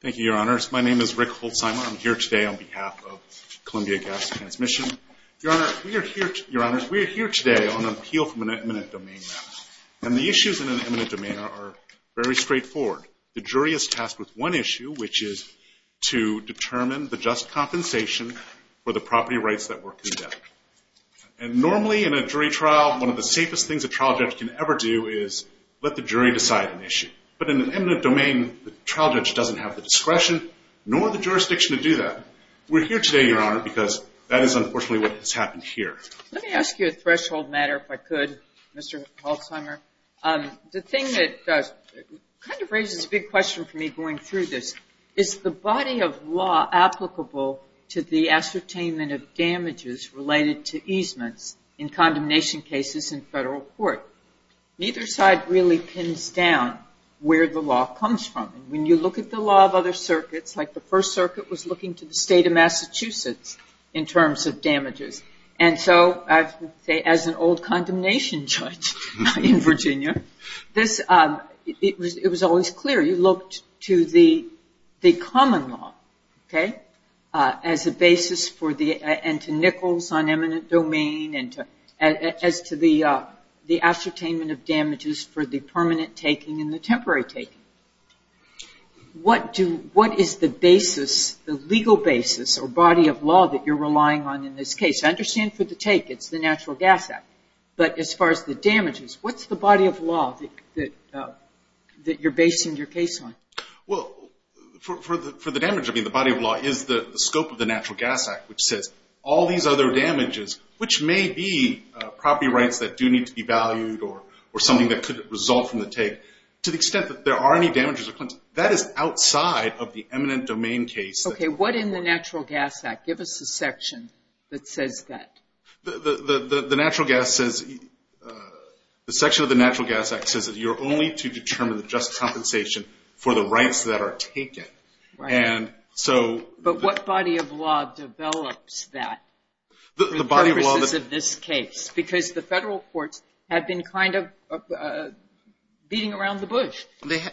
Thank you, Your Honors. My name is Rick Holtzheimer. I'm here today on behalf of Columbia Gas Transmission. Your Honors, we are here today on an appeal from an eminent domain matter, and the issues in an eminent domain are very straightforward. The jury is tasked with one issue, which is to determine the just compensation for the property rights that were conducted. And normally in a jury trial, one of the safest things a trial judge can ever do is let the jury decide an issue. But in an eminent domain, the trial judge doesn't have the discretion nor the jurisdiction to do that. We're here today, Your Honor, because that is unfortunately what has happened here. Let me ask you a threshold matter, if I could, Mr. Holtzheimer. The thing that kind of raises a big question for me going through this, is the body of law applicable to the ascertainment of damages related to easements in condemnation cases in federal court? Neither side really pins down where the law comes from. When you look at the law of other circuits, like the First Circuit was looking to the state of Massachusetts in terms of damages. And so as an old condemnation judge in Virginia, it was always clear. You looked to the common law as a basis and to Nichols on eminent domain as to the ascertainment of damages for the permanent taking and the temporary taking. What is the basis, the legal basis or body of law that you're relying on in this case? I understand for the take it's the Natural Gas Act, but as far as the damages, what's the body of law that you're basing your case on? Well, for the damage, I mean, the body of law is the scope of the Natural Gas Act, which says all these other damages, which may be property rights that do need to be valued or something that could result from the take. To the extent that there are any damages or claims, that is outside of the eminent domain case. Okay, what in the Natural Gas Act? Give us a section that says that. The section of the Natural Gas Act says that you're only to determine the just compensation for the rights that are taken. But what body of law develops that for the purposes of this case? Because the federal courts have been kind of beating around the bush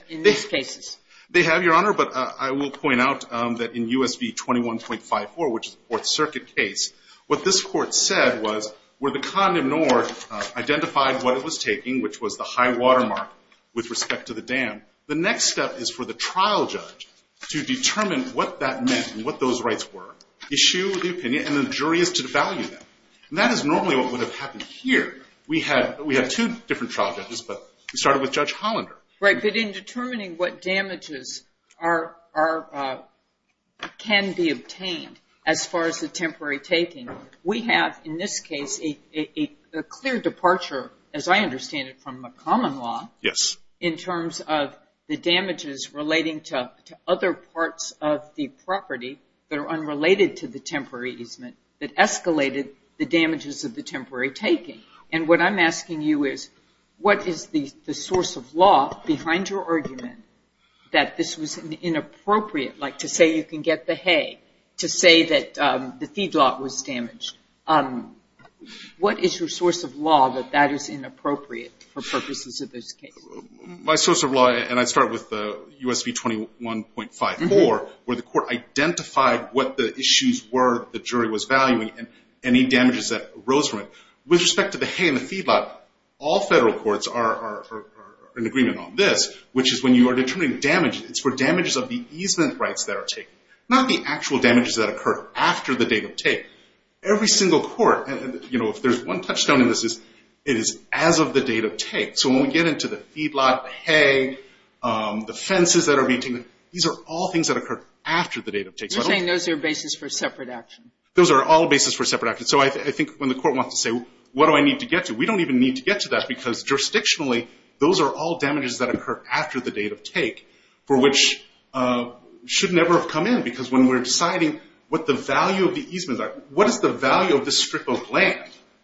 in these cases. They have, Your Honor, but I will point out that in U.S. v. 21.54, which is the Fourth Circuit case, what this court said was where the condominor identified what it was taking, which was the high watermark with respect to the dam, the next step is for the trial judge to determine what that meant and what those rights were, issue the opinion, and then the jury is to devalue them. And that is normally what would have happened here. We had two different trial judges, but we started with Judge Hollander. Right, but in determining what damages can be obtained as far as the temporary taking, we have in this case a clear departure, as I understand it, from a common law. Yes. In terms of the damages relating to other parts of the property that are unrelated to the temporary easement that escalated the damages of the temporary taking. And what I'm asking you is what is the source of law behind your argument that this was inappropriate, like to say you can get the hay, to say that the feedlot was damaged. What is your source of law that that is inappropriate for purposes of this case? My source of law, and I start with U.S. v. 21.54, where the court identified what the issues were the jury was valuing and any damages that arose from it. With respect to the hay and the feedlot, all federal courts are in agreement on this, which is when you are determining damage, it's for damages of the easement rights that are taken, not the actual damages that occurred after the date of take. Every single court, you know, if there's one touchstone in this, it is as of the date of take. So when we get into the feedlot, hay, the fences that are being taken, these are all things that occurred after the date of take. You're saying those are bases for separate action. Those are all bases for separate action. So I think when the court wants to say, what do I need to get to? We don't even need to get to that because jurisdictionally, those are all damages that occurred after the date of take for which should never have come in because when we're deciding what the value of the easements are, what is the value of this strip of land,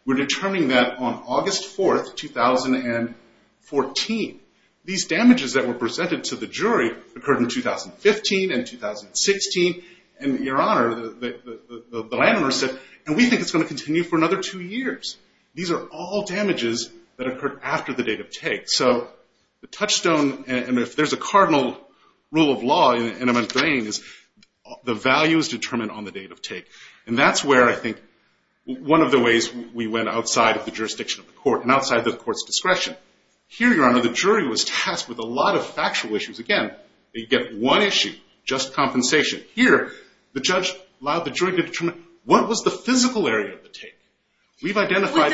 we're determining that on August 4, 2014. These damages that were presented to the jury occurred in 2015 and 2016. And, Your Honor, the landowner said, and we think it's going to continue for another two years. These are all damages that occurred after the date of take. So the touchstone, and if there's a cardinal rule of law, and I'm agreeing is the value is determined on the date of take. And that's where I think one of the ways we went outside of the jurisdiction of the court and outside the court's discretion. Here, Your Honor, the jury was tasked with a lot of factual issues. Again, they get one issue, just compensation. Here, the judge allowed the jury to determine what was the physical area of the take. We've identified-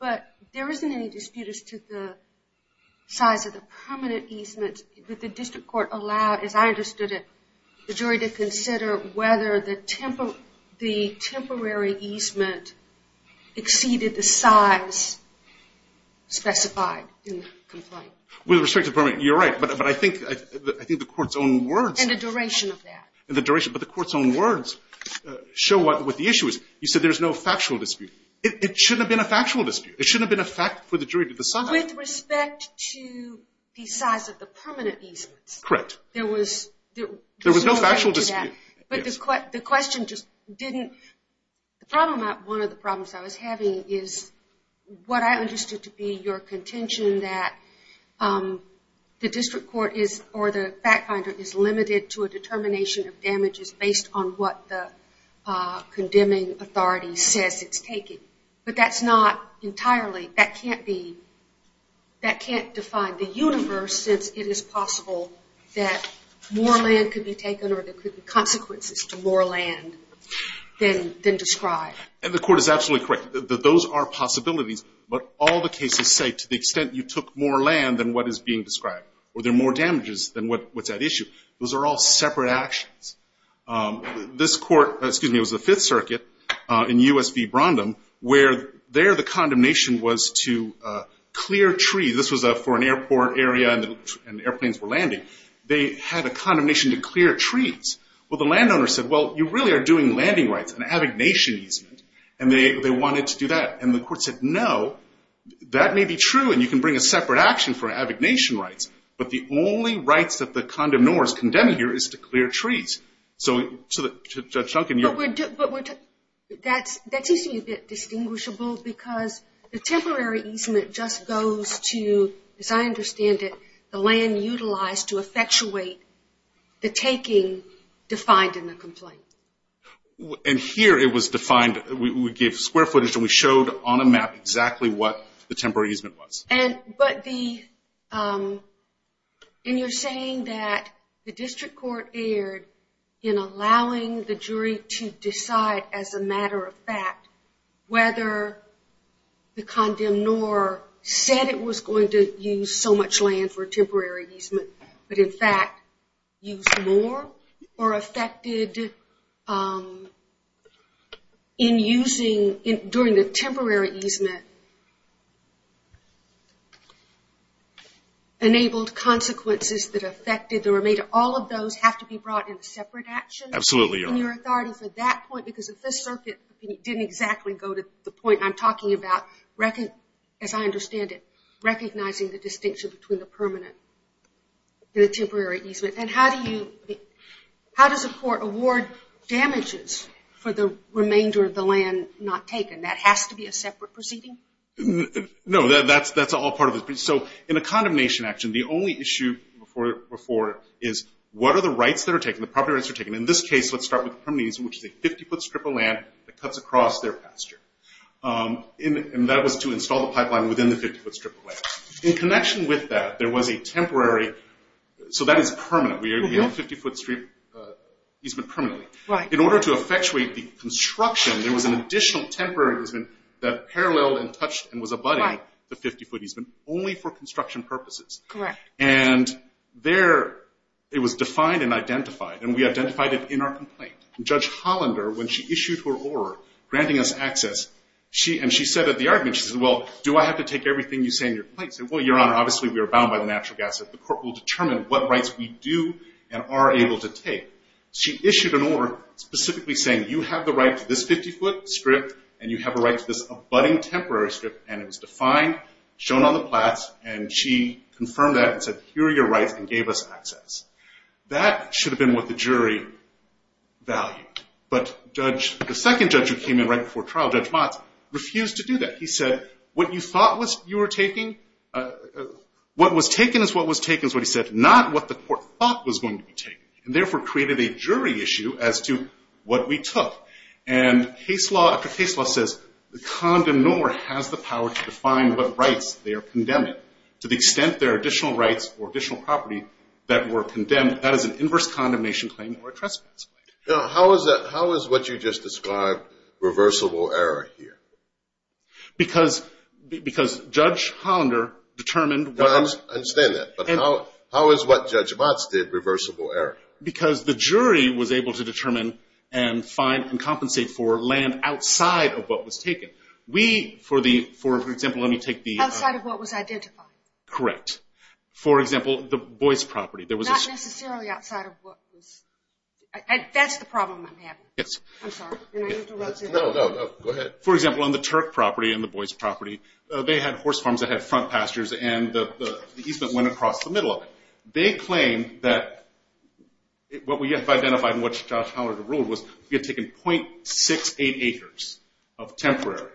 But there isn't any dispute as to the size of the permanent easement. Would the district court allow, as I understood it, the jury to consider whether the temporary easement exceeded the size specified in the complaint? With respect to permanent, you're right. But I think the court's own words- And the duration of that. But the court's own words show what the issue is. You said there's no factual dispute. It shouldn't have been a factual dispute. It shouldn't have been a fact for the jury to decide. With respect to the size of the permanent easements. Correct. There was no factual dispute. But the question just didn't- One of the problems I was having is what I understood to be your contention that the district court or the fact finder is limited to a determination of damages based on what the condemning authority says it's taken. But that's not entirely- That can't define the universe since it is possible that more land could be taken or there could be consequences to more land than described. And the court is absolutely correct. Those are possibilities. But all the cases say to the extent you took more land than what is being described or there are more damages than what's at issue. Those are all separate actions. This court- Excuse me. It was the Fifth Circuit in U.S. v. Brondum where there the condemnation was to clear trees. This was for an airport area and airplanes were landing. They had a condemnation to clear trees. Well, the landowner said, Well, you really are doing landing rights and having nation easement. And they wanted to do that. And the court said, No, that may be true and you can bring a separate action for abdication rights. But the only rights that the condemnor is condemned here is to clear trees. So Judge Duncan, you're- But that seems to me a bit distinguishable because the temporary easement just goes to, as I understand it, the land utilized to effectuate the taking defined in the complaint. And here it was defined. We gave square footage and we showed on a map exactly what the temporary easement was. But the- And you're saying that the district court erred in allowing the jury to decide as a matter of fact whether the condemnor said it was going to use so much land for temporary easement but in fact used more or affected in using, during the temporary easement, enabled consequences that affected the remainder. All of those have to be brought in a separate action- Absolutely, Your Honor. In your authority for that point? Because if this circuit didn't exactly go to the point I'm talking about, as I understand it, recognizing the distinction between the permanent and the temporary easement. And how does a court award damages for the remainder of the land not taken? That has to be a separate proceeding? No, that's all part of it. So in a condemnation action, the only issue before it is what are the rights that are taken, the property rights that are taken. In this case, let's start with the permanent easement, which is a 50-foot strip of land that cuts across their pasture. And that was to install the pipeline within the 50-foot strip of land. In connection with that, there was a temporary, so that is permanent. We have a 50-foot strip easement permanently. In order to effectuate the construction, there was an additional temporary easement that paralleled and touched and was abutting the 50-foot easement only for construction purposes. Correct. And there it was defined and identified, and we identified it in our complaint. Judge Hollander, when she issued her order granting us access, and she said at the argument, she said, well, do I have to take everything you say in your complaint? I said, well, Your Honor, obviously we are bound by the natural gas. The court will determine what rights we do and are able to take. She issued an order specifically saying you have the right to this 50-foot strip and you have a right to this abutting temporary strip, and it was defined, shown on the plats, and she confirmed that and said, here are your rights, and gave us access. That should have been what the jury valued, but the second judge who came in right before trial, Judge Motz, refused to do that. He said, what you thought you were taking, what was taken is what was taken, is what he said, not what the court thought was going to be taken, and therefore created a jury issue as to what we took. And case law after case law says the condemnor has the power to define what rights they are condemning to the extent there are additional rights or additional property that were condemned. That is an inverse condemnation claim or a trespass claim. Now, how is what you just described reversible error here? Because Judge Hollander determined what was… I understand that, but how is what Judge Motz did reversible error? Because the jury was able to determine and find and compensate for land outside of what was taken. We, for example, let me take the… Correct. For example, the Boyce property, there was… Not necessarily outside of what was… That's the problem I'm having. Yes. I'm sorry. No, no, go ahead. For example, on the Turk property and the Boyce property, they had horse farms that had front pastures, and the easement went across the middle of it. They claim that what we have identified and what Judge Hollander ruled was we had taken .68 acres of temporary.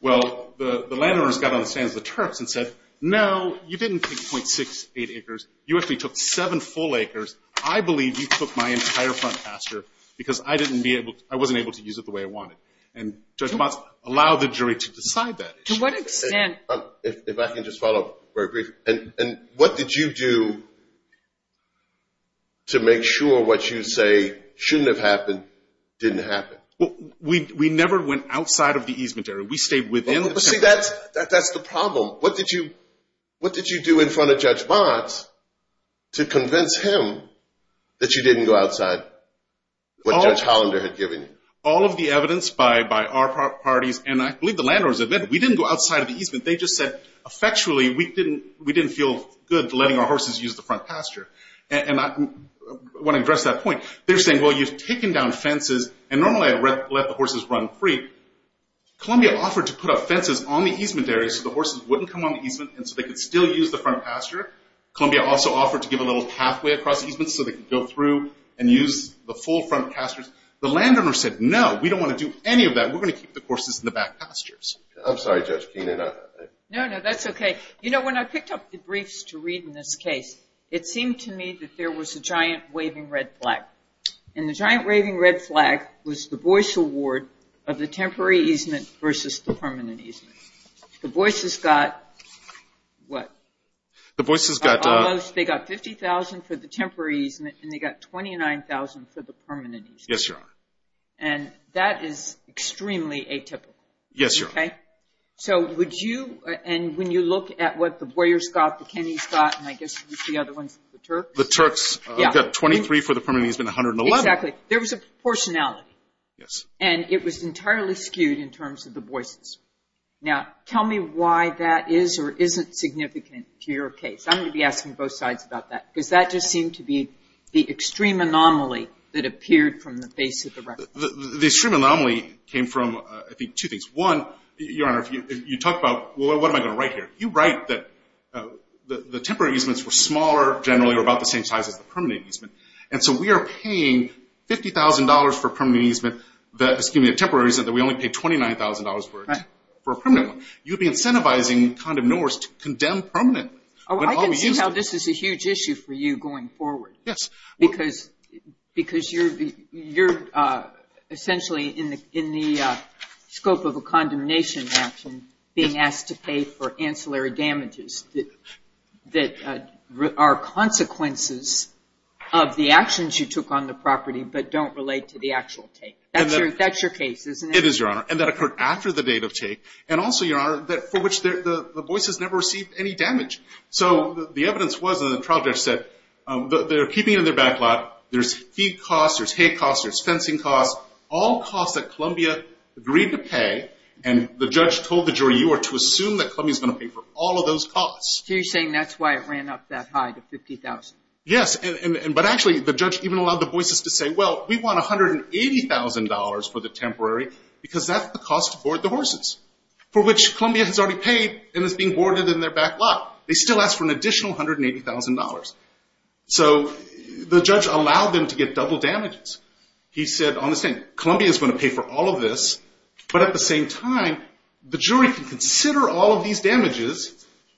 Well, the landowners got on the stands of the Turks and said, no, you didn't take .68 acres. You actually took seven full acres. I believe you took my entire front pasture because I wasn't able to use it the way I wanted. And Judge Motz allowed the jury to decide that. To what extent… If I can just follow up very briefly. And what did you do to make sure what you say shouldn't have happened didn't happen? We never went outside of the easement area. We stayed within… See, that's the problem. What did you do in front of Judge Motz to convince him that you didn't go outside what Judge Hollander had given you? All of the evidence by our parties, and I believe the landowners admitted we didn't go outside of the easement. They just said effectually we didn't feel good letting our horses use the front pasture. And I want to address that point. They're saying, well, you've taken down fences, and normally I'd let the horses run free. Columbia offered to put up fences on the easement area so the horses wouldn't come on the easement and so they could still use the front pasture. Columbia also offered to give a little pathway across the easement so they could go through and use the full front pastures. The landowner said, no, we don't want to do any of that. We're going to keep the horses in the back pastures. I'm sorry, Judge Keenan. No, no, that's okay. You know, when I picked up the briefs to read in this case, it seemed to me that there was a giant waving red flag. And the giant waving red flag was the Boyce Award of the temporary easement versus the permanent easement. The Boyce's got what? The Boyce's got. They got $50,000 for the temporary easement, and they got $29,000 for the permanent easement. Yes, Your Honor. And that is extremely atypical. Yes, Your Honor. Okay. So would you, and when you look at what the Boyer's got, the Kenney's got, and I guess the other ones, the Turk's. The Turk's got $23,000 for the permanent easement and $111,000. Exactly. There was a proportionality. Yes. And it was entirely skewed in terms of the Boyce's. Now, tell me why that is or isn't significant to your case. I'm going to be asking both sides about that because that just seemed to be the extreme anomaly that appeared from the face of the record. The extreme anomaly came from, I think, two things. One, Your Honor, you talk about, well, what am I going to write here? You write that the temporary easements were smaller generally or about the same size as the permanent easement, and so we are paying $50,000 for a permanent easement, excuse me, a temporary easement, that we only paid $29,000 for a permanent one. You'd be incentivizing Condom Norris to condemn permanently. Oh, I can see how this is a huge issue for you going forward. Yes. Because you're essentially in the scope of a condemnation action being asked to pay for ancillary damages that are consequences of the actions you took on the property but don't relate to the actual take. That's your case, isn't it? It is, Your Honor, and that occurred after the date of take, and also, Your Honor, for which the Boyce's never received any damage. So the evidence was, and the trial judge said, they're keeping it in their back lot. There's feed costs. There's hay costs. There's fencing costs, all costs that Columbia agreed to pay, and the judge told the jury you are to assume that Columbia is going to pay for all of those costs. So you're saying that's why it ran up that high to $50,000. Yes, but actually, the judge even allowed the Boyce's to say, well, we want $180,000 for the temporary because that's the cost to board the horses, for which Columbia has already paid and is being boarded in their back lot. They still ask for an additional $180,000. So the judge allowed them to get double damages. He said, on the same, Columbia is going to pay for all of this, but at the same time, the jury can consider all of these damages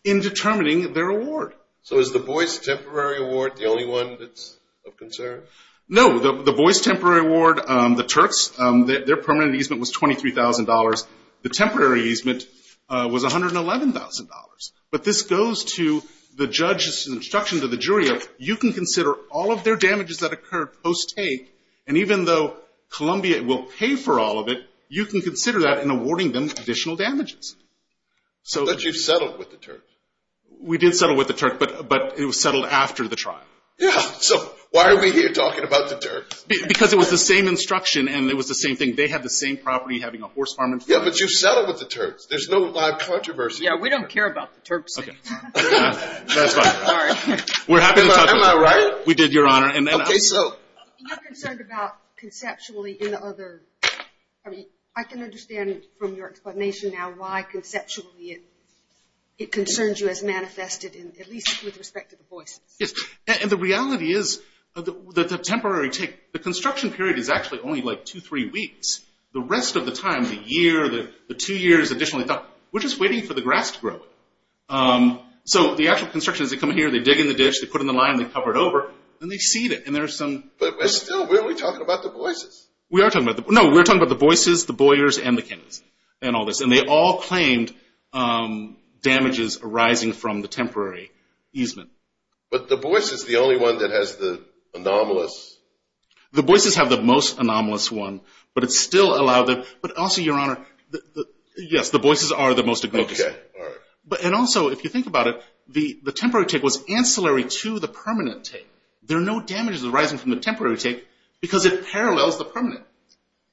in determining their award. So is the Boyce temporary award the only one that's of concern? No, the Boyce temporary award, the Turks, their permanent easement was $23,000. The temporary easement was $111,000. But this goes to the judge's instruction to the jury, you can consider all of their damages that occurred post-take, and even though Columbia will pay for all of it, you can consider that in awarding them additional damages. But you've settled with the Turks. We did settle with the Turks, but it was settled after the trial. Yeah, so why are we here talking about the Turks? Because it was the same instruction and it was the same thing. They had the same property, having a horse farm. Yeah, but you've settled with the Turks. There's no live controversy. Yeah, we don't care about the Turks. Okay. That's fine. Sorry. We're happy to talk about it. Am I right? We did, Your Honor. Okay, so. You're concerned about conceptually in the other, I mean, I can understand from your explanation now why conceptually it concerns you as manifested, at least with respect to the Boyce. Yes, and the reality is that the temporary take, the construction period is actually only like two, three weeks. The rest of the time, the year, the two years additionally, we're just waiting for the grass to grow. So the actual construction is they come here, they dig in the ditch, they put in the line, they cover it over, and they seed it. But still, we're only talking about the Boyces. No, we're talking about the Boyces, the Boyers, and the Kings, and all this. And they all claimed damages arising from the temporary easement. But the Boyce is the only one that has the anomalous. The Boyces have the most anomalous one, but it's still allowed them. But also, Your Honor, yes, the Boyces are the most egregious. Okay, all right. And also, if you think about it, the temporary take was ancillary to the permanent take. There are no damages arising from the temporary take because it parallels the permanent.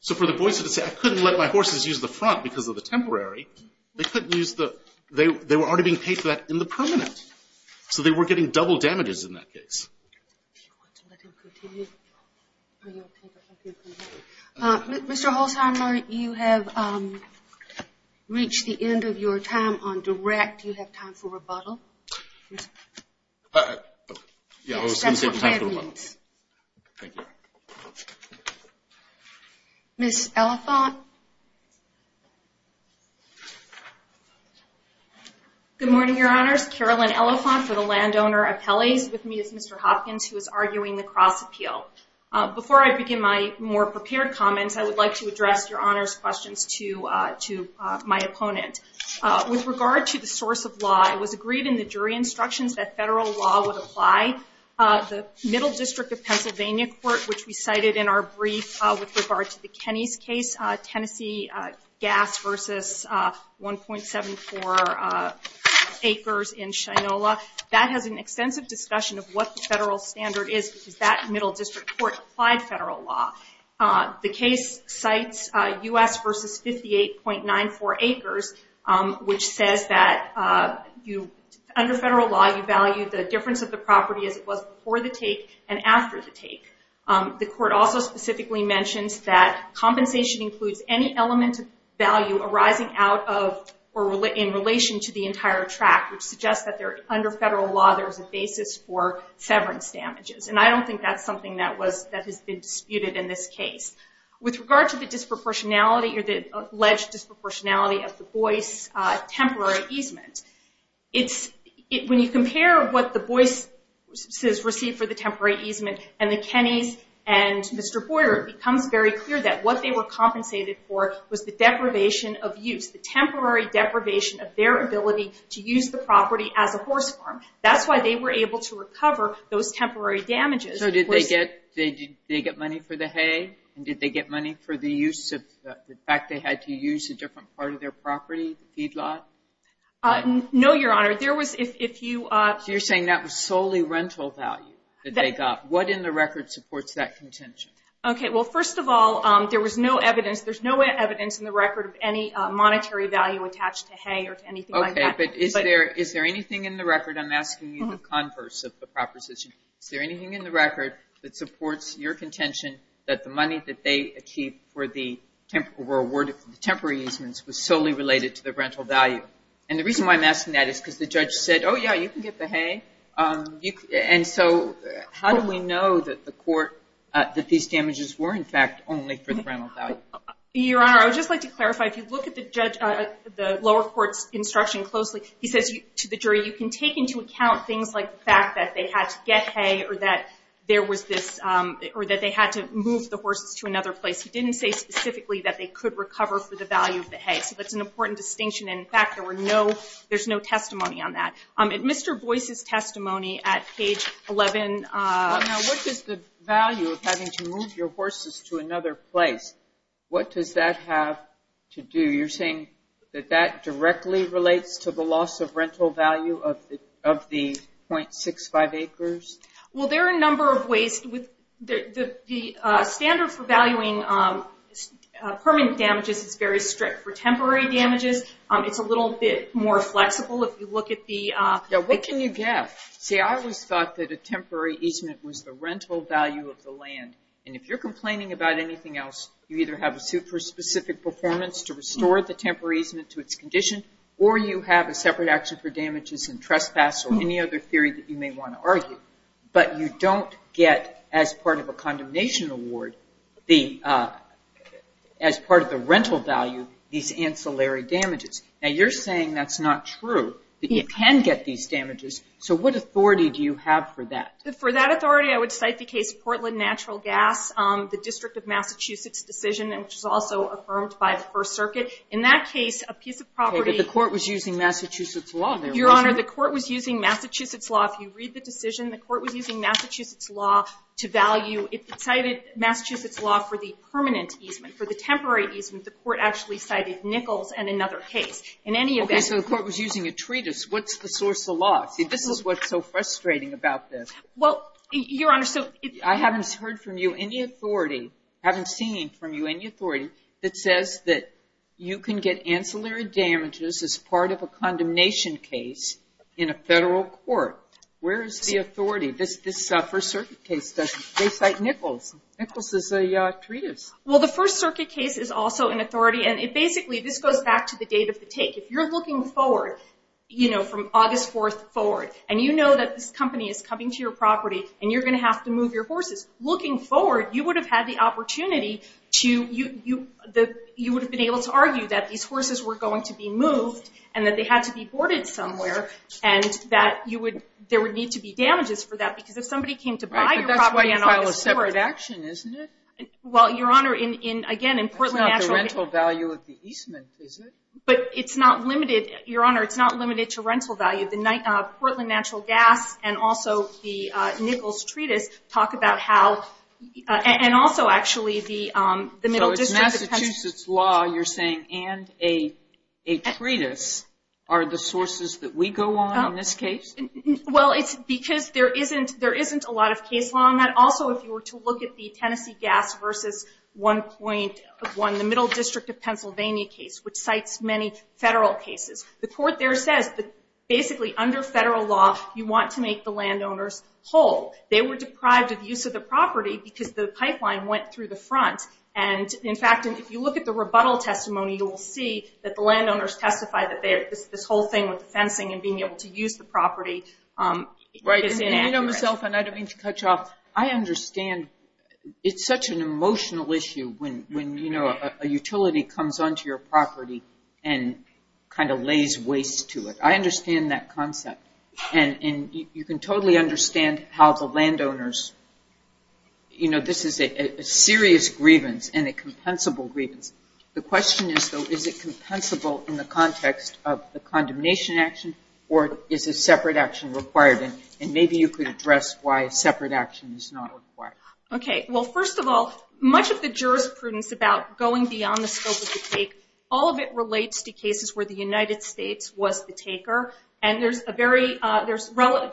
So for the Boyces to say, I couldn't let my horses use the front because of the temporary, they couldn't use the – they were already being paid for that in the permanent. So they were getting double damages in that case. Do you want to let him continue? Mr. Holtheimer, you have reached the end of your time on direct. Do you have time for rebuttal? Yeah, I was going to say time for rebuttal. Thank you. Ms. Elephant? Good morning, Your Honors. Carolyn Elephant for the Landowner Appellees. With me is Mr. Hopkins, who is arguing the cross-appeal. Before I begin my more prepared comments, I would like to address Your Honor's questions to my opponent. With regard to the source of law, it was agreed in the jury instructions that federal law would apply. The Middle District of Pennsylvania Court, which we cited in our brief with regard to the Kenney's case, Tennessee gas versus 1.74 acres in Shinola, that has an extensive discussion of what the federal standard is because that Middle District Court applied federal law. The case cites U.S. versus 58.94 acres, which says that under federal law, you value the difference of the property as it was before the take and after the take. The court also specifically mentions that compensation includes any element of value arising out of or in relation to the entire track, which suggests that under federal law, there is a basis for severance damages. I don't think that's something that has been disputed in this case. With regard to the alleged disproportionality of the Boyce temporary easement, when you compare what the Boyce's received for the temporary easement and the Kenney's and Mr. Boyer, it becomes very clear that what they were compensated for was the deprivation of use, the temporary deprivation of their ability to use the property as a horse farm. That's why they were able to recover those temporary damages. So did they get money for the hay? And did they get money for the use of the fact they had to use a different part of their property, the feedlot? No, Your Honor. You're saying that was solely rental value that they got. What in the record supports that contention? Okay. Well, first of all, there was no evidence. There's no evidence in the record of any monetary value attached to hay or to anything like that. Okay. But is there anything in the record? I'm asking you the converse of the proposition. Is there anything in the record that supports your contention that the money that they achieved for the temporary easements was solely related to the rental value? And the reason why I'm asking that is because the judge said, oh, yeah, you can get the hay. And so how do we know that the court, that these damages were, in fact, only for the rental value? Your Honor, I would just like to clarify. If you look at the lower court's instruction closely, he says to the jury, you can take into account things like the fact that they had to get hay or that there was this or that they had to move the horses to another place. He didn't say specifically that they could recover for the value of the hay. So that's an important distinction. And, in fact, there's no testimony on that. In Mr. Boyce's testimony at page 11. Now, what is the value of having to move your horses to another place? What does that have to do? So you're saying that that directly relates to the loss of rental value of the .65 acres? Well, there are a number of ways. The standard for valuing permanent damages is very strict. For temporary damages, it's a little bit more flexible if you look at the- Yeah, what can you get? See, I always thought that a temporary easement was the rental value of the land. And if you're complaining about anything else, you either have a suit for specific performance to restore the temporary easement to its condition, or you have a separate action for damages and trespass or any other theory that you may want to argue. But you don't get, as part of a condemnation award, as part of the rental value, these ancillary damages. Now, you're saying that's not true, that you can get these damages. So what authority do you have for that? For that authority, I would cite the case of Portland Natural Gas, the District of Massachusetts decision, which was also affirmed by the First Circuit. In that case, a piece of property- Okay, but the court was using Massachusetts law there, wasn't it? Your Honor, the court was using Massachusetts law. If you read the decision, the court was using Massachusetts law to value. It cited Massachusetts law for the permanent easement. For the temporary easement, the court actually cited Nichols and another case. In any event- Okay, so the court was using a treatise. What's the source of law? See, this is what's so frustrating about this. Well, Your Honor, so- I haven't heard from you any authority- I haven't seen from you any authority that says that you can get ancillary damages as part of a condemnation case in a federal court. Where is the authority? This First Circuit case doesn't- They cite Nichols. Nichols is a treatise. Well, the First Circuit case is also an authority, and basically this goes back to the date of the take. If you're looking forward, you know, from August 4th forward, and you know that this company is coming to your property, and you're going to have to move your horses. Looking forward, you would have had the opportunity to- you would have been able to argue that these horses were going to be moved and that they had to be boarded somewhere, and that there would need to be damages for that. Because if somebody came to buy your property on August 4th- Right, but that's why you file a separate action, isn't it? Well, Your Honor, again, in Portland Natural- That's not the rental value of the easement, is it? But it's not limited- Your Honor, it's not limited to rental value. The Portland Natural Gas and also the Nichols Treatise talk about how- and also, actually, the Middle District- So it's Massachusetts law you're saying, and a treatise are the sources that we go on in this case? Well, it's because there isn't a lot of case law on that. Also, if you were to look at the Tennessee Gas v. 1.1, the Middle District of Pennsylvania case, which cites many federal cases, the court there says that, basically, under federal law, you want to make the landowners whole. They were deprived of use of the property because the pipeline went through the front. And, in fact, if you look at the rebuttal testimony, you will see that the landowners testify that this whole thing with the fencing and being able to use the property is inaccurate. Right, and you know, Ms. Elfin, I don't mean to cut you off, and kind of lays waste to it. I understand that concept. And you can totally understand how the landowners- you know, this is a serious grievance and a compensable grievance. The question is, though, is it compensable in the context of the condemnation action or is a separate action required? And maybe you could address why a separate action is not required. Okay, well, first of all, much of the jurisprudence about going beyond the scope of the case, all of it relates to cases where the United States was the taker. And there's important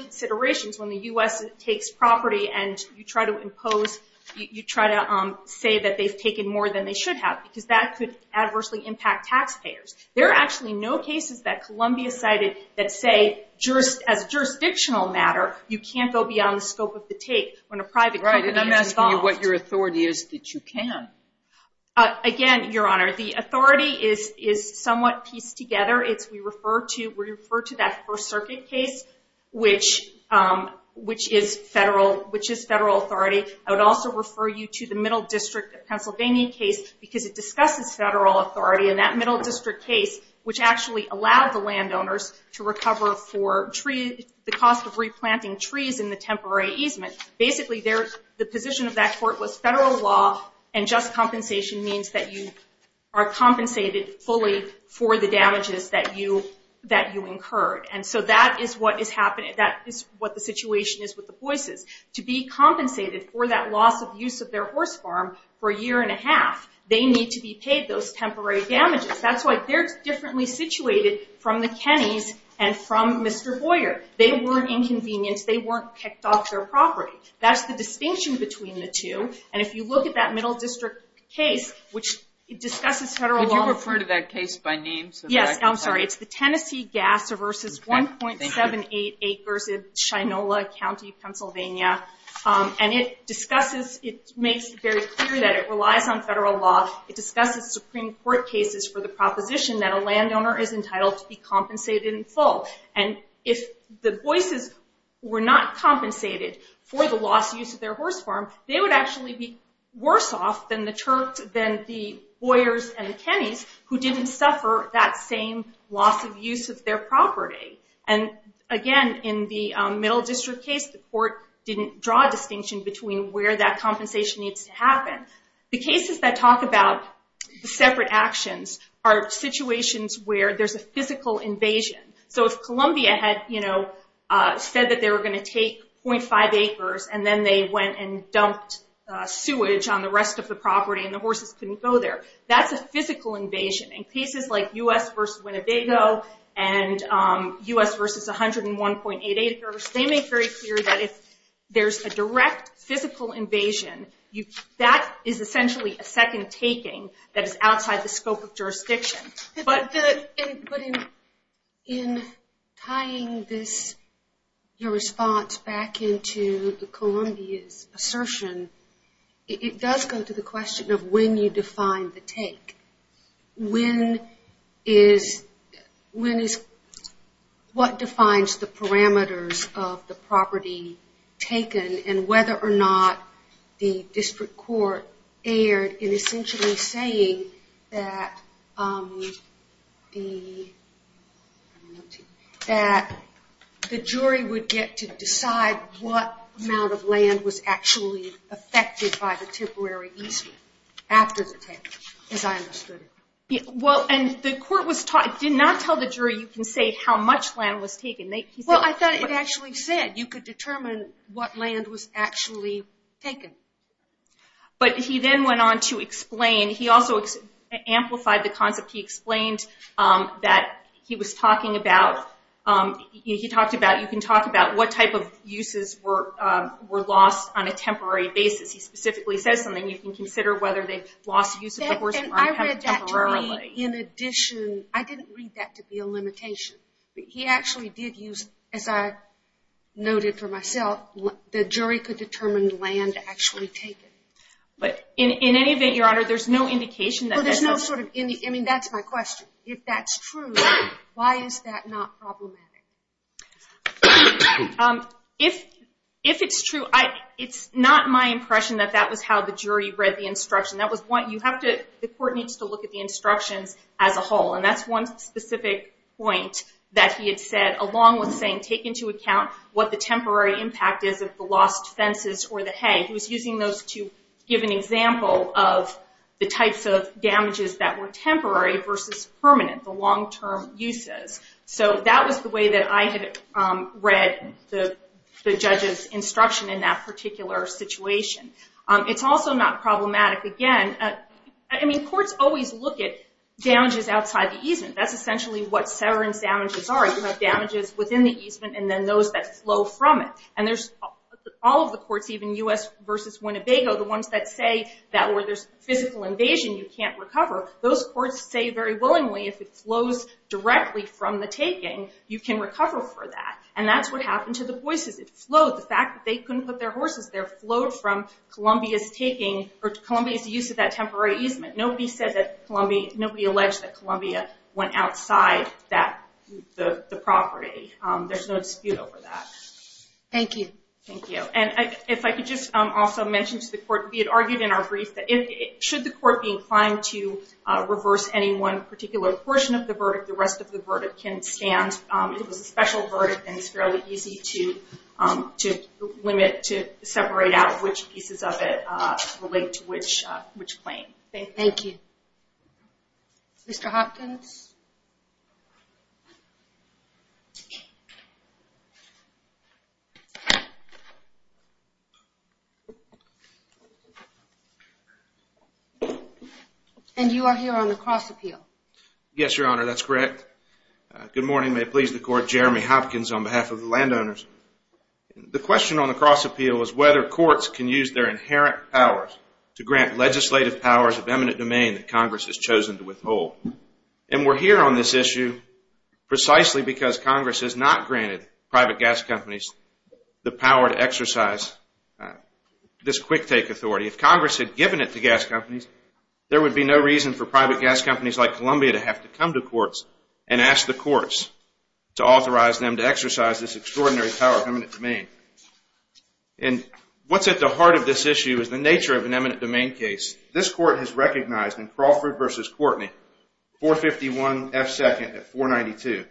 considerations when the U.S. takes property and you try to impose-you try to say that they've taken more than they should have because that could adversely impact taxpayers. There are actually no cases that Columbia cited that say, as a jurisdictional matter, you can't go beyond the scope of the take when a private company is involved. Right, and I'm asking you what your authority is that you can. Again, Your Honor, the authority is somewhat pieced together. We refer to that First Circuit case, which is federal authority. I would also refer you to the Middle District of Pennsylvania case because it discusses federal authority. And that Middle District case, which actually allowed the landowners to recover for the cost of replanting trees in the temporary easement. Basically, the position of that court was federal law and just compensation means that you are compensated fully for the damages that you incurred. And so that is what is happening. That is what the situation is with the Boises. To be compensated for that loss of use of their horse farm for a year and a half, they need to be paid those temporary damages. That's why they're differently situated from the Kennys and from Mr. Boyer. They weren't inconvenienced. They weren't kicked off their property. That's the distinction between the two. And if you look at that Middle District case, which discusses federal law. Could you refer to that case by name? Yes, I'm sorry. It's the Tennessee Gas versus 1.78 Acres in Shinola County, Pennsylvania. And it discusses, it makes very clear that it relies on federal law. It discusses Supreme Court cases for the proposition that a landowner is entitled to be compensated in full. And if the Boises were not compensated for the lost use of their horse farm, they would actually be worse off than the Boyers and the Kennys who didn't suffer that same loss of use of their property. And, again, in the Middle District case, the court didn't draw a distinction between where that compensation needs to happen. The cases that talk about separate actions are situations where there's a physical invasion. So if Columbia had said that they were going to take 0.5 acres and then they went and dumped sewage on the rest of the property and the horses couldn't go there, that's a physical invasion. In cases like U.S. versus Winnebago and U.S. versus 101.8 Acres, they make very clear that if there's a direct physical invasion, that is essentially a second taking that is outside the scope of jurisdiction. But in tying your response back into Columbia's assertion, it does go to the question of when you define the take. When is what defines the parameters of the property taken and whether or not the district court erred in essentially saying that the jury would get to decide what amount of land was actually affected by the temporary easement after the take, as I understood it. Well, and the court did not tell the jury you can say how much land was taken. Well, I thought it actually said you could determine what land was actually taken. But he then went on to explain. He also amplified the concept. He explained that he was talking about, he talked about, you can talk about what type of uses were lost on a temporary basis. He specifically says something, you can consider whether they lost use of the horse barn temporarily. And I read that to me in addition. I didn't read that to be a limitation. He actually did use, as I noted for myself, how the jury could determine land actually taken. But in any event, Your Honor, there's no indication that that's true. I mean, that's my question. If that's true, why is that not problematic? If it's true, it's not my impression that that was how the jury read the instruction. That was what you have to, the court needs to look at the instructions as a whole. And that's one specific point that he had said, along with saying take into account what the temporary impact is of the lost fences or the hay. He was using those to give an example of the types of damages that were temporary versus permanent, the long-term uses. So that was the way that I had read the judge's instruction in that particular situation. It's also not problematic, again. I mean, courts always look at damages outside the easement. That's essentially what severance damages are. You have damages within the easement and then those that flow from it. And there's all of the courts, even U.S. versus Winnebago, the ones that say that where there's physical invasion you can't recover, those courts say very willingly if it flows directly from the taking, you can recover for that. And that's what happened to the Boises. It flowed. The fact that they couldn't put their horses there flowed from Columbia's taking, or Columbia's use of that temporary easement. Nobody alleged that Columbia went outside the property. There's no dispute over that. Thank you. Thank you. And if I could just also mention to the court, we had argued in our brief that should the court be inclined to reverse any one particular portion of the verdict, the rest of the verdict can stand. It was a special verdict and it's fairly easy to limit, to separate out which pieces of it relate to which claim. Okay. Thank you. Mr. Hopkins? And you are here on the cross appeal. Yes, Your Honor, that's correct. Good morning. May it please the court, Jeremy Hopkins on behalf of the landowners. The question on the cross appeal is whether courts can use their inherent powers to grant legislative powers of eminent domain that Congress has chosen to withhold. And we're here on this issue precisely because Congress has not granted private gas companies the power to exercise this quick take authority. If Congress had given it to gas companies, there would be no reason for private gas companies like Columbia to have to come to courts and ask the courts to authorize them to exercise this extraordinary power of eminent domain. And what's at the heart of this issue is the nature of an eminent domain case. This court has recognized in Crawford v. Courtney, 451 F. 2nd at 492.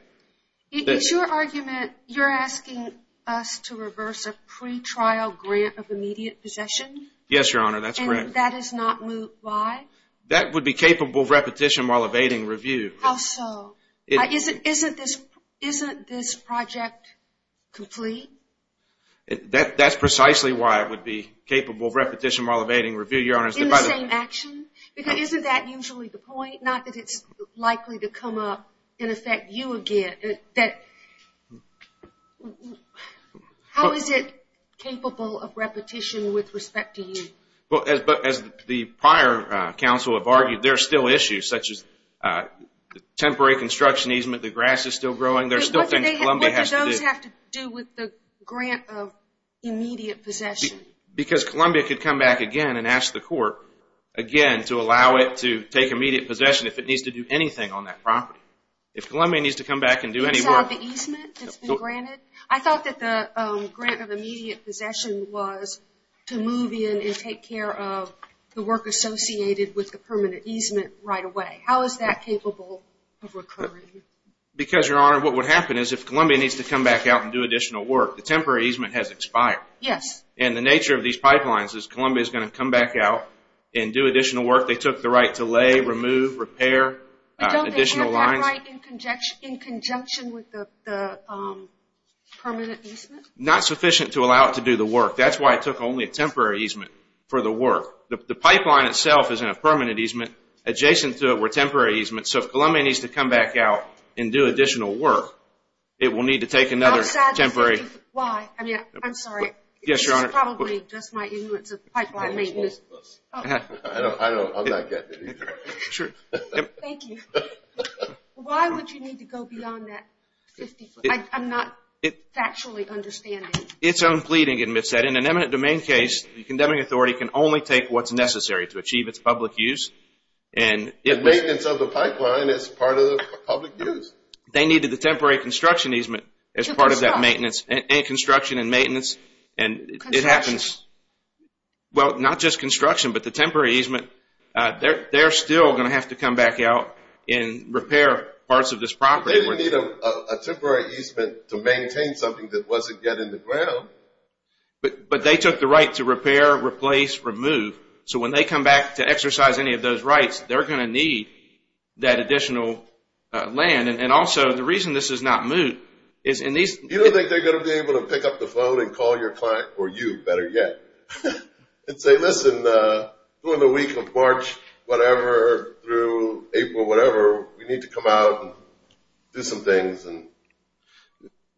Is your argument you're asking us to reverse a pretrial grant of immediate possession? Yes, Your Honor, that's correct. And that is not moved by? That would be capable of repetition while evading review. How so? Isn't this project complete? That's precisely why it would be capable of repetition while evading review, Your Honor. In the same action? Because isn't that usually the point? Not that it's likely to come up and affect you again. How is it capable of repetition with respect to you? As the prior counsel have argued, there are still issues such as temporary construction easement, the grass is still growing. There are still things Columbia has to do. What do those have to do with the grant of immediate possession? Because Columbia could come back again and ask the court, again, to allow it to take immediate possession if it needs to do anything on that property. If Columbia needs to come back and do any work. Inside the easement that's been granted? I thought that the grant of immediate possession was to move in and take care of the work associated with the permanent easement right away. How is that capable of recurring? Because, Your Honor, what would happen is if Columbia needs to come back out and do additional work, the temporary easement has expired. Yes. And the nature of these pipelines is Columbia is going to come back out and do additional work. They took the right to lay, remove, repair additional lines. In conjunction with the permanent easement? Not sufficient to allow it to do the work. That's why it took only a temporary easement for the work. The pipeline itself is in a permanent easement. Adjacent to it were temporary easements. So if Columbia needs to come back out and do additional work, it will need to take another temporary. I'm sorry. Yes, Your Honor. This is probably just my ignorance of pipeline maintenance. I'm not getting it either. Thank you. Why would you need to go beyond that? I'm not factually understanding. It's unpleading, and in an eminent domain case, the condemning authority can only take what's necessary to achieve its public use. Maintenance of the pipeline is part of the public use. They needed the temporary construction easement as part of that maintenance. Construction and maintenance. It happens. Well, not just construction, but the temporary easement. They're still going to have to come back out and repair parts of this property. They didn't need a temporary easement to maintain something that wasn't yet in the ground. But they took the right to repair, replace, remove. So when they come back to exercise any of those rights, they're going to need that additional land. And also, the reason this is not moot is in these – You don't think they're going to be able to pick up the phone and call your client, or you better yet, and say, listen, during the week of March, whatever, through April, whatever, we need to come out and do some things.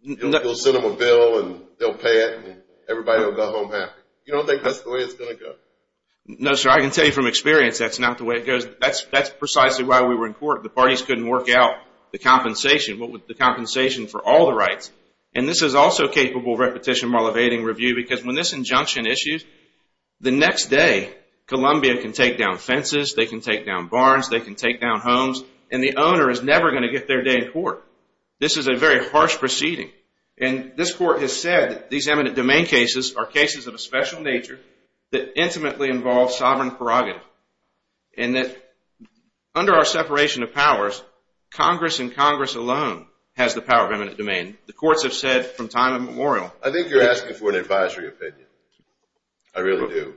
We'll send them a bill, and they'll pay it, and everybody will go home happy. You don't think that's the way it's going to go? No, sir. I can tell you from experience that's not the way it goes. That's precisely why we were in court. The parties couldn't work out the compensation. What was the compensation for all the rights? And this is also capable of repetition while evading review because when this injunction issues, the next day, Columbia can take down fences, they can take down barns, they can take down homes, and the owner is never going to get their day in court. This is a very harsh proceeding. And this court has said that these eminent domain cases are cases of a special nature that intimately involve sovereign prerogative and that under our separation of powers, Congress and Congress alone has the power of eminent domain. The courts have said from time immemorial. I think you're asking for an advisory opinion. I really do.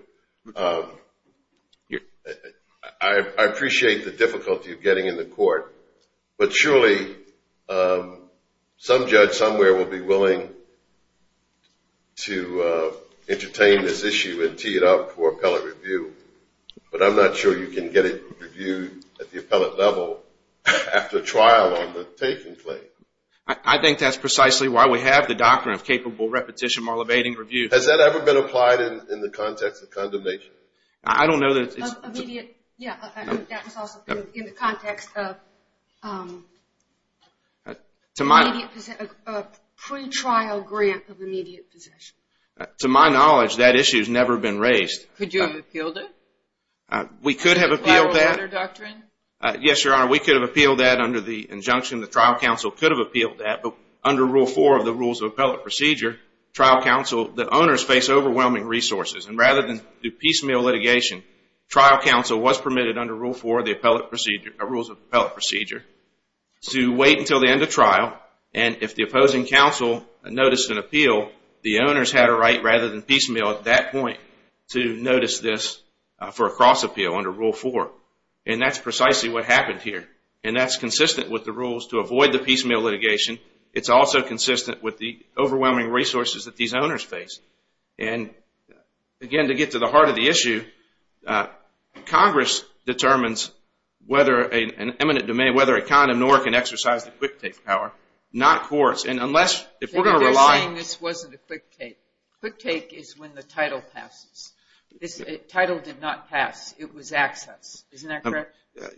I appreciate the difficulty of getting in the court, but surely some judge somewhere will be willing to entertain this issue and tee it up for appellate review, but I'm not sure you can get it reviewed at the appellate level after trial on the taking claim. I think that's precisely why we have the doctrine of capable repetition while evading review. Has that ever been applied in the context of condemnation? I don't know that it's... Yeah, that was also in the context of pre-trial grant of immediate possession. To my knowledge, that issue has never been raised. Could you have appealed it? We could have appealed that. Yes, Your Honor, we could have appealed that under the injunction. The trial counsel could have appealed that, but under Rule 4 of the Rules of Appellate Procedure, trial counsel, the owners face overwhelming resources, and rather than do piecemeal litigation, trial counsel was permitted under Rule 4 of the Rules of Appellate Procedure to wait until the end of trial, and if the opposing counsel noticed an appeal, the owners had a right rather than piecemeal at that point to notice this for a cross appeal under Rule 4, and that's precisely what happened here, and that's consistent with the rules to avoid the piecemeal litigation. It's also consistent with the overwhelming resources that these owners face, and again, to get to the heart of the issue, Congress determines whether an eminent domain, whether a condom nor can exercise the quick take power, not courts, and unless if we're going to rely... They're saying this wasn't a quick take. Quick take is when the title passes. The title did not pass. It was access. Isn't that correct?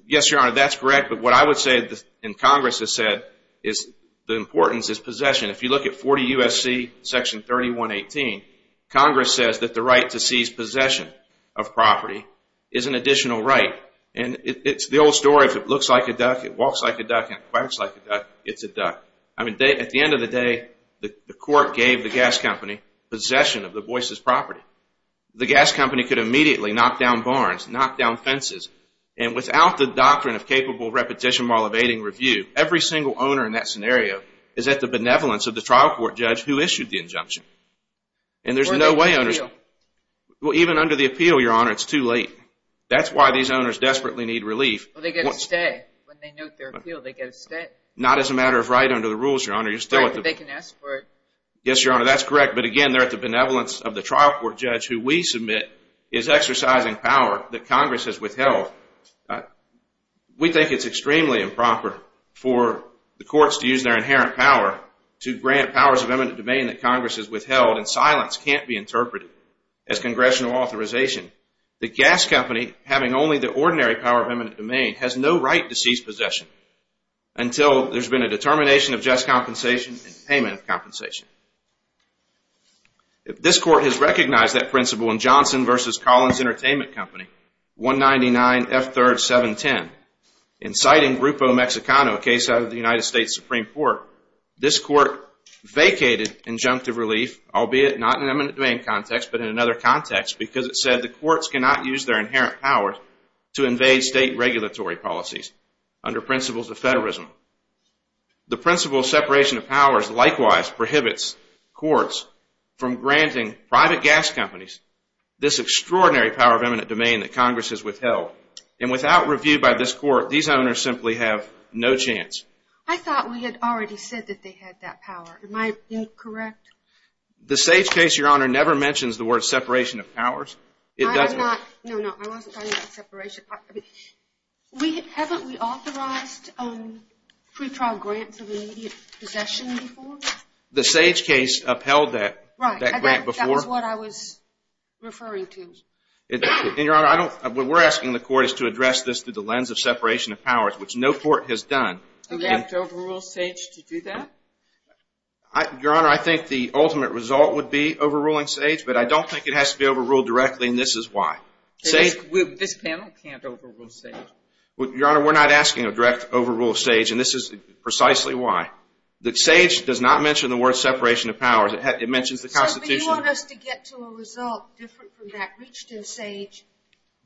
Yes, Your Honor, that's correct. But what I would say, and Congress has said, is the importance is possession. If you look at 40 U.S.C. Section 3118, Congress says that the right to seize possession of property is an additional right, and it's the old story. If it looks like a duck, it walks like a duck, and it quacks like a duck, it's a duck. I mean, at the end of the day, the court gave the gas company possession of the Boyce's property. The gas company could immediately knock down barns, knock down fences, and without the doctrine of capable repetition while evading review, every single owner in that scenario is at the benevolence of the trial court judge who issued the injunction. And there's no way owners... Or the appeal. Well, even under the appeal, Your Honor, it's too late. That's why these owners desperately need relief. Well, they've got to stay. When they note their appeal, they've got to stay. Not as a matter of right under the rules, Your Honor. They can ask for it. Yes, Your Honor, that's correct. But again, they're at the benevolence of the trial court judge who we submit is exercising power that Congress has withheld. We think it's extremely improper for the courts to use their inherent power to grant powers of eminent domain that Congress has withheld, and silence can't be interpreted as congressional authorization. The gas company, having only the ordinary power of eminent domain, has no right to cease possession until there's been a determination of just compensation and payment of compensation. This court has recognized that principle in Johnson v. Collins Entertainment Company, 199 F3rd 710. In citing Grupo Mexicano, a case out of the United States Supreme Court, this court vacated injunctive relief, albeit not in an eminent domain context, but in another context, because it said the courts cannot use their inherent powers under principles of federalism. The principle of separation of powers likewise prohibits courts from granting private gas companies this extraordinary power of eminent domain that Congress has withheld. And without review by this court, these owners simply have no chance. I thought we had already said that they had that power. Am I incorrect? The Sage case, Your Honor, never mentions the word separation of powers. It doesn't. No, no, I wasn't talking about separation. Haven't we authorized pretrial grants of immediate possession before? The Sage case upheld that grant before. Right, that was what I was referring to. Your Honor, what we're asking the court is to address this through the lens of separation of powers, which no court has done. Do we have to overrule Sage to do that? Your Honor, I think the ultimate result would be overruling Sage, but I don't think it has to be overruled directly, and this is why. This panel can't overrule Sage. Your Honor, we're not asking a direct overrule of Sage, and this is precisely why. Sage does not mention the word separation of powers. It mentions the Constitution. But you want us to get to a result different from that reached in Sage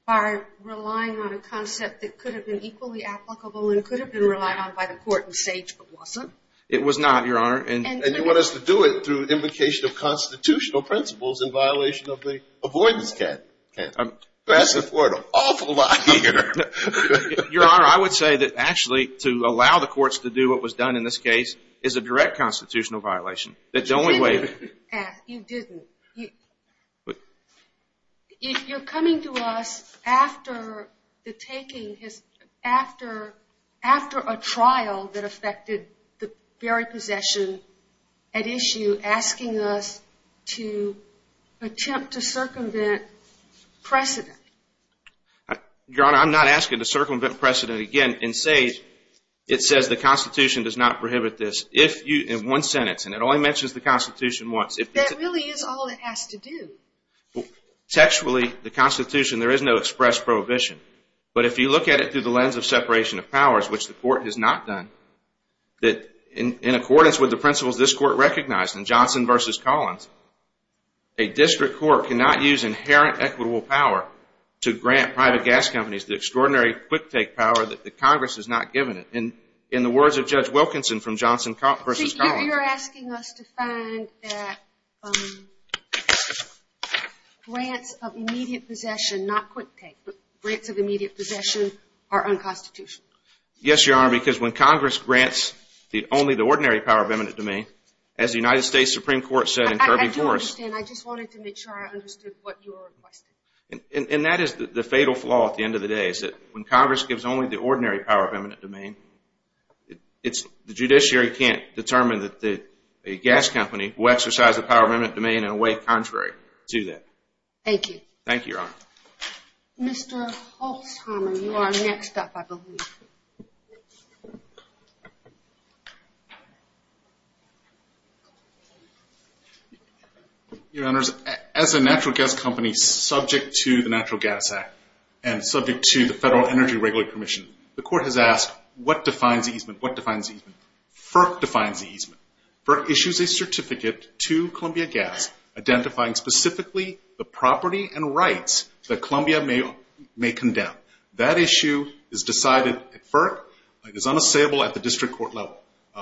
by relying on a concept that could have been equally applicable and could have been relied on by the court in Sage, but wasn't? It was not, Your Honor. And you want us to do it through implication of constitutional principles in violation of the Avoidance Act. That's an awful lot easier. Your Honor, I would say that actually to allow the courts to do what was done in this case is a direct constitutional violation. You didn't ask. You didn't. If you're coming to us after a trial that affected the very possession at issue asking us to attempt to circumvent precedent. Your Honor, I'm not asking to circumvent precedent again in Sage. It says the Constitution does not prohibit this. If you, in one sentence, and it only mentions the Constitution once. That really is all it has to do. Textually, the Constitution, there is no express prohibition. But if you look at it through the lens of separation of powers, which the court has not done, that in accordance with the principles this court recognized in Johnson v. Collins, a district court cannot use inherent equitable power to grant private gas companies the extraordinary quick-take power that the Congress has not given it. In the words of Judge Wilkinson from Johnson v. Collins. So you're asking us to find that grants of immediate possession, not quick-take, but grants of immediate possession are unconstitutional. Yes, Your Honor, because when Congress grants only the ordinary power of eminent domain, as the United States Supreme Court said in Kirby Force... I do understand. I just wanted to make sure I understood what you were requesting. And that is the fatal flaw at the end of the day, is that when Congress gives only the ordinary power of eminent domain, the judiciary can't determine that a gas company will exercise the power of eminent domain in a way contrary to that. Thank you. Thank you, Your Honor. Mr. Holtzheimer, you are next up, I believe. Your Honors, as a natural gas company subject to the Natural Gas Act and subject to the Federal Energy Regulatory Commission, the Court has asked, what defines easement? What defines easement? FERC defines easement. FERC issues a certificate to Columbia Gas identifying specifically the property and rights that Columbia may condemn. That issue is decided at FERC and is unassailable at the district court level.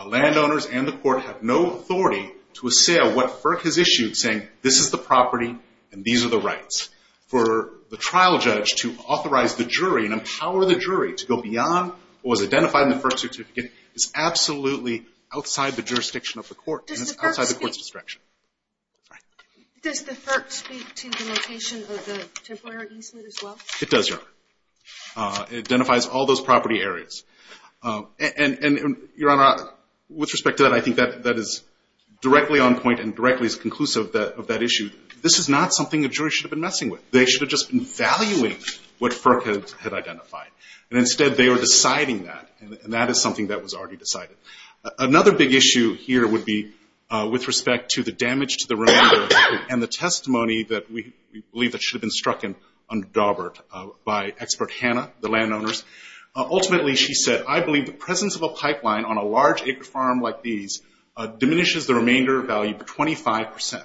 Landowners and the court have no authority to assail what FERC has issued saying this is the property and these are the rights. For the trial judge to authorize the jury and empower the jury to go beyond what was identified in the FERC certificate is absolutely outside the jurisdiction of the court and it's outside the court's discretion. Does the FERC speak to the location of the temporary easement as well? It does, Your Honor. It identifies all those property areas. And Your Honor, with respect to that, I think that is directly on point and directly is conclusive of that issue. This is not something the jury should have been messing with. They should have just been valuing what FERC had identified and instead they were deciding that and that is something that was already decided. Another big issue here would be with respect to the damage to the remainder and the testimony that we believe that should have been struck and undaubered by expert Hannah, the landowners. Ultimately, she said, I believe the presence of a pipeline on a large acre farm like these diminishes the remainder value by 25%.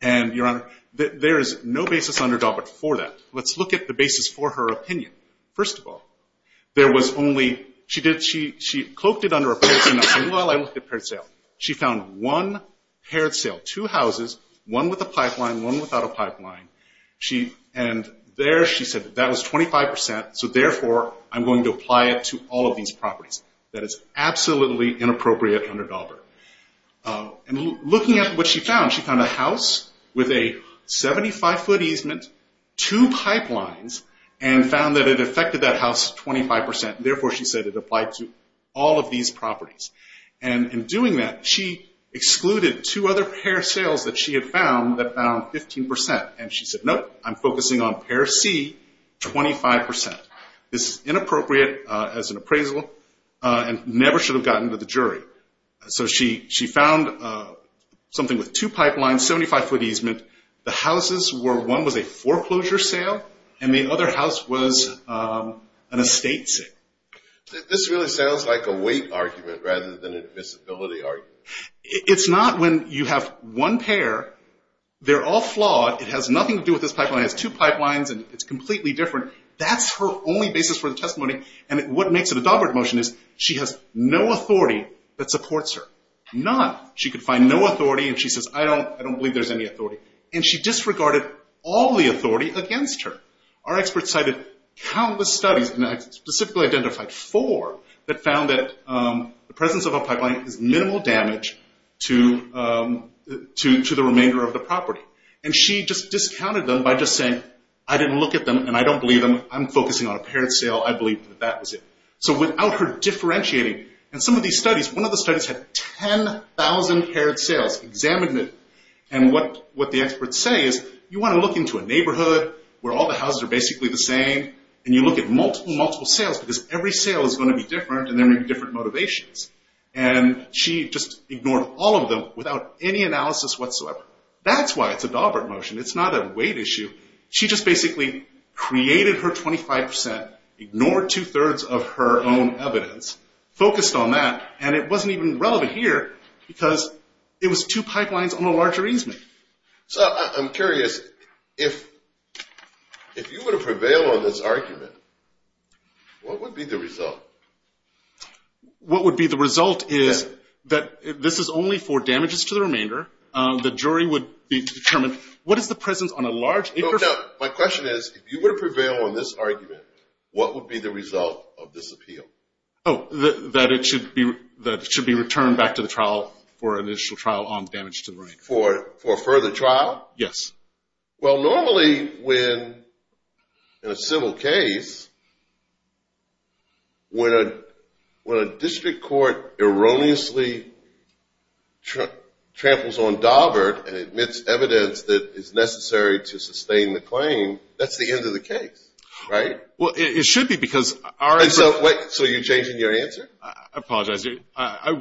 And Your Honor, there is no basis underdog it for that. Let's look at the basis for her opinion. First of all, there was only, she cloaked it under a person and said, well, I looked at paired sale. She found one paired sale. Two houses, one with a pipeline, one without a pipeline. And there she said that was 25%, so therefore, I'm going to apply it to all of these properties. That is absolutely inappropriate underdog her. And looking at what she found, she found a house with a 75-foot easement, two pipelines, and found that it affected that house 25%. Therefore, she said it applied to all of these properties. And in doing that, she excluded two other paired sales that she had found that found 15%. And she said, nope, I'm focusing on pair C, 25%. This is inappropriate as an appraisal and never should have gotten to the jury. So she found something with two pipelines, 75-foot easement. The houses were, one was a foreclosure sale and the other house was an estate sale. This really sounds like a weight argument rather than a visibility argument. It's not when you have one pair. They're all flawed. It has nothing to do with this pipeline. It has two pipelines and it's completely different. That's her only basis for the testimony. And what makes it a dogmatic motion is she has no authority that supports her. None. She could find no authority and she says, I don't believe there's any authority. And she disregarded all the authority against her. Our experts cited countless studies, and I specifically identified four, that found that the presence of a pipeline is minimal damage to the remainder of the property. And she just discounted them by just saying, I didn't look at them and I don't believe them. I'm focusing on a paired sale. I believe that that was it. So without her differentiating, and some of these studies, one of the studies had 10,000 paired sales examined. And what the experts say is, you want to look into a neighborhood where all the houses are basically the same and you look at multiple, multiple sales because every sale is going to be different and there may be different motivations. And she just ignored all of them without any analysis whatsoever. That's why it's a Daubert motion. It's not a weight issue. She just basically created her 25%, ignored two-thirds of her own evidence, focused on that, and it wasn't even relevant here because it was two pipelines on a larger easement. So I'm curious, if you were to prevail on this argument, what would be the result? What would be the result is that this is only for damages to the remainder. The jury would determine, what is the presence on a large... No, no. My question is, if you were to prevail on this argument, what would be the result of this appeal? Oh, that it should be returned back to the trial for an initial trial on damage to the remainder. For a further trial? Yes. Well, normally when, in a civil case, when a district court erroneously tramples on Daubert and admits evidence that is necessary to sustain the claim, that's the end of the case, right? Well, it should be because our... So you're changing your answer? I apologize. I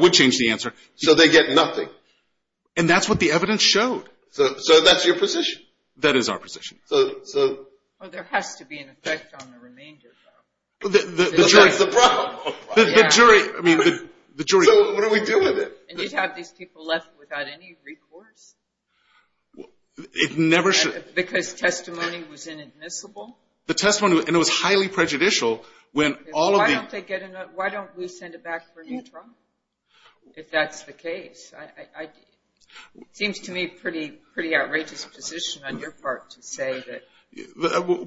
would change the answer. So they get nothing? And that's what the evidence showed. So that's your position? That is our position. So... Well, there has to be an effect on the remainder, though. That's the problem. The jury... So what do we do with it? And you'd have these people left without any recourse? It never should... Because testimony was inadmissible? The testimony... And it was highly prejudicial when all of the... Why don't we send it back for a new trial? If that's the case. It seems to me a pretty outrageous position on your part to say that...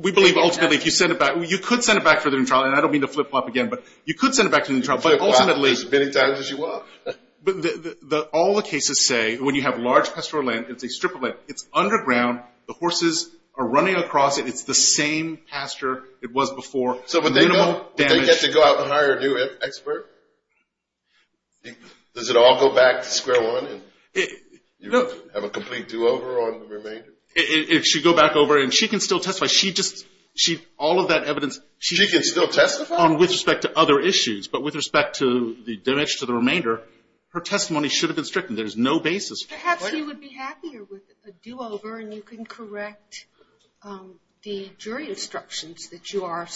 We believe ultimately if you send it back... You could send it back for a new trial, and I don't mean to flip-flop again, but you could send it back for a new trial, but ultimately... Flip-flop as many times as you want. But all the cases say when you have large pastoral land, and it's a strip of land, it's underground, the horses are running across it, it's the same pasture it was before, minimal damage... So would they get to go out and hire a new expert? Does it all go back to square one, and you have a complete do-over on the remainder? It should go back over, and she can still testify. She just... All of that evidence... She can still testify? With respect to other issues, but with respect to the damage to the remainder, her testimony should have been stricken. There's no basis for it. Perhaps you would be happier with a do-over, and you can correct the jury instructions that you are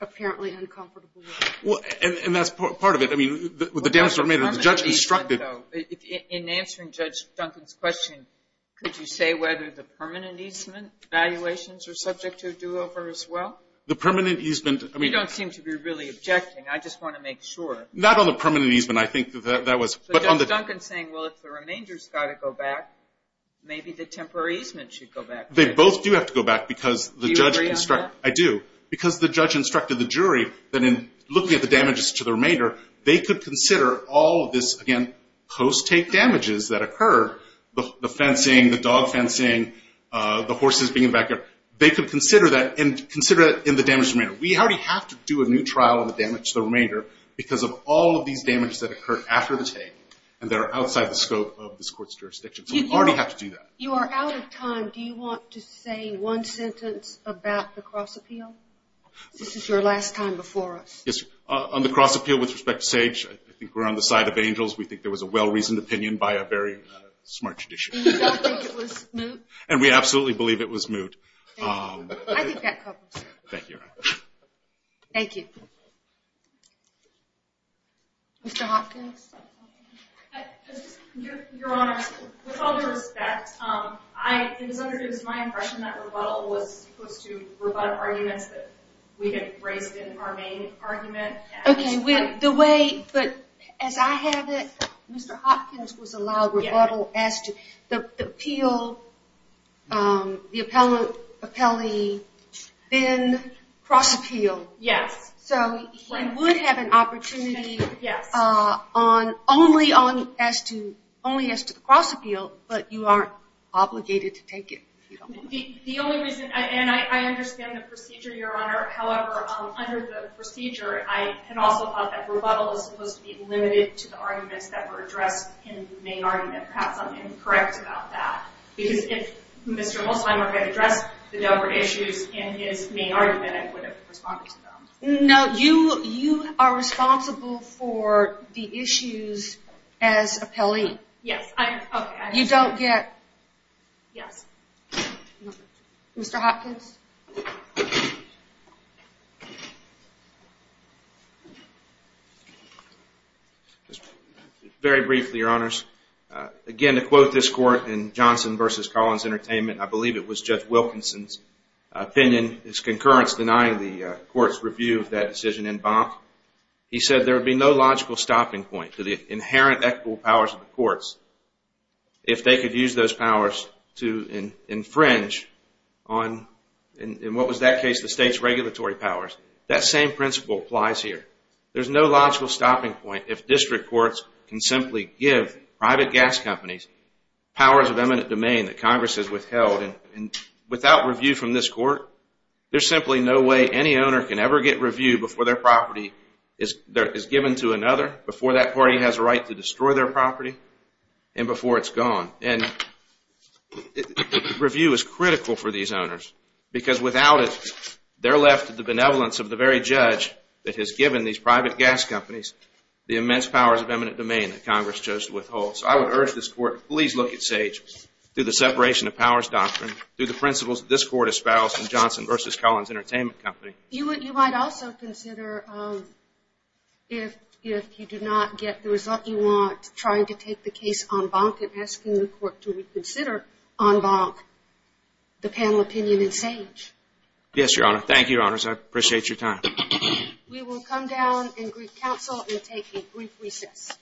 apparently uncomfortable with. And that's part of it. I mean, with the damage to the remainder, the judge instructed... In answering Judge Duncan's question, could you say whether the permanent easement evaluations are subject to a do-over as well? The permanent easement... We don't seem to be really objecting. I just want to make sure. Not on the permanent easement. I think that that was... So Judge Duncan's saying, well, if the remainder's got to go back, maybe the temporary easement should go back. They both do have to go back because the judge instructed... Do you agree on that? I do. Because the judge instructed the jury that in looking at the damages to the remainder, they could consider all of this, again, post-take damages that occurred, the fencing, the dog fencing, the horses being evacuated, they could consider that in the damage to the remainder. We already have to do a new trial on the damage to the remainder because of all of these damages that occurred after the take, and they're outside the scope of this court's jurisdiction. So we already have to do that. You are out of time. Do you want to say one sentence about the cross-appeal? This is your last time before us. On the cross-appeal with respect to Sage, I think we're on the side of angels. We think there was a well-reasoned opinion by a very smart judiciary. And you don't think it was moot? And we absolutely believe it was moot. I think that covers it. Thank you. Thank you. Mr. Hopkins? Your Honor, with all due respect, it was my impression that rebuttal was supposed to rebut arguments that we had raised in our main argument. Okay, but as I have it, Mr. Hopkins was allowed rebuttal. The appeal, the appellee then cross-appealed. Yes. So he would have an opportunity only as to the cross-appeal, but you aren't obligated to take it. The only reason, and I understand the procedure, Your Honor. However, under the procedure, I had also thought that rebuttal was supposed to be limited to the arguments that were addressed in the main argument. Perhaps I'm incorrect about that. Because if Mr. Mosheimer had addressed the Delbert issues in his main argument, I would have responded to them. No, you are responsible for the issues as appellee. Yes. Okay. You don't get. Yes. Mr. Hopkins? Just very briefly, Your Honors. Again, to quote this court in Johnson v. Collins Entertainment, I believe it was Judge Wilkinson's opinion, his concurrence denying the court's review of that decision in Bonk. He said there would be no logical stopping point to the inherent equitable powers of the courts if they could use those powers to infringe on, in what was that case, the state's regulatory powers. That same principle applies here. There's no logical stopping point if district courts can simply give private gas companies powers of eminent domain that Congress has withheld. Without review from this court, there's simply no way any owner can ever get review before their property is given to another, before that party has a right to destroy their property, and before it's gone. And review is critical for these owners, because without it they're left to the benevolence of the very judge that has given these private gas companies the immense powers of eminent domain that Congress chose to withhold. So I would urge this court to please look at Sage through the separation of powers doctrine, through the principles that this court espoused in Johnson v. Collins Entertainment Company. You might also consider if you do not get the result you want, trying to take the case en banc and asking the court to reconsider en banc the panel opinion in Sage. Yes, Your Honor. Thank you, Your Honors. I appreciate your time. We will come down and greet counsel and take a brief recess.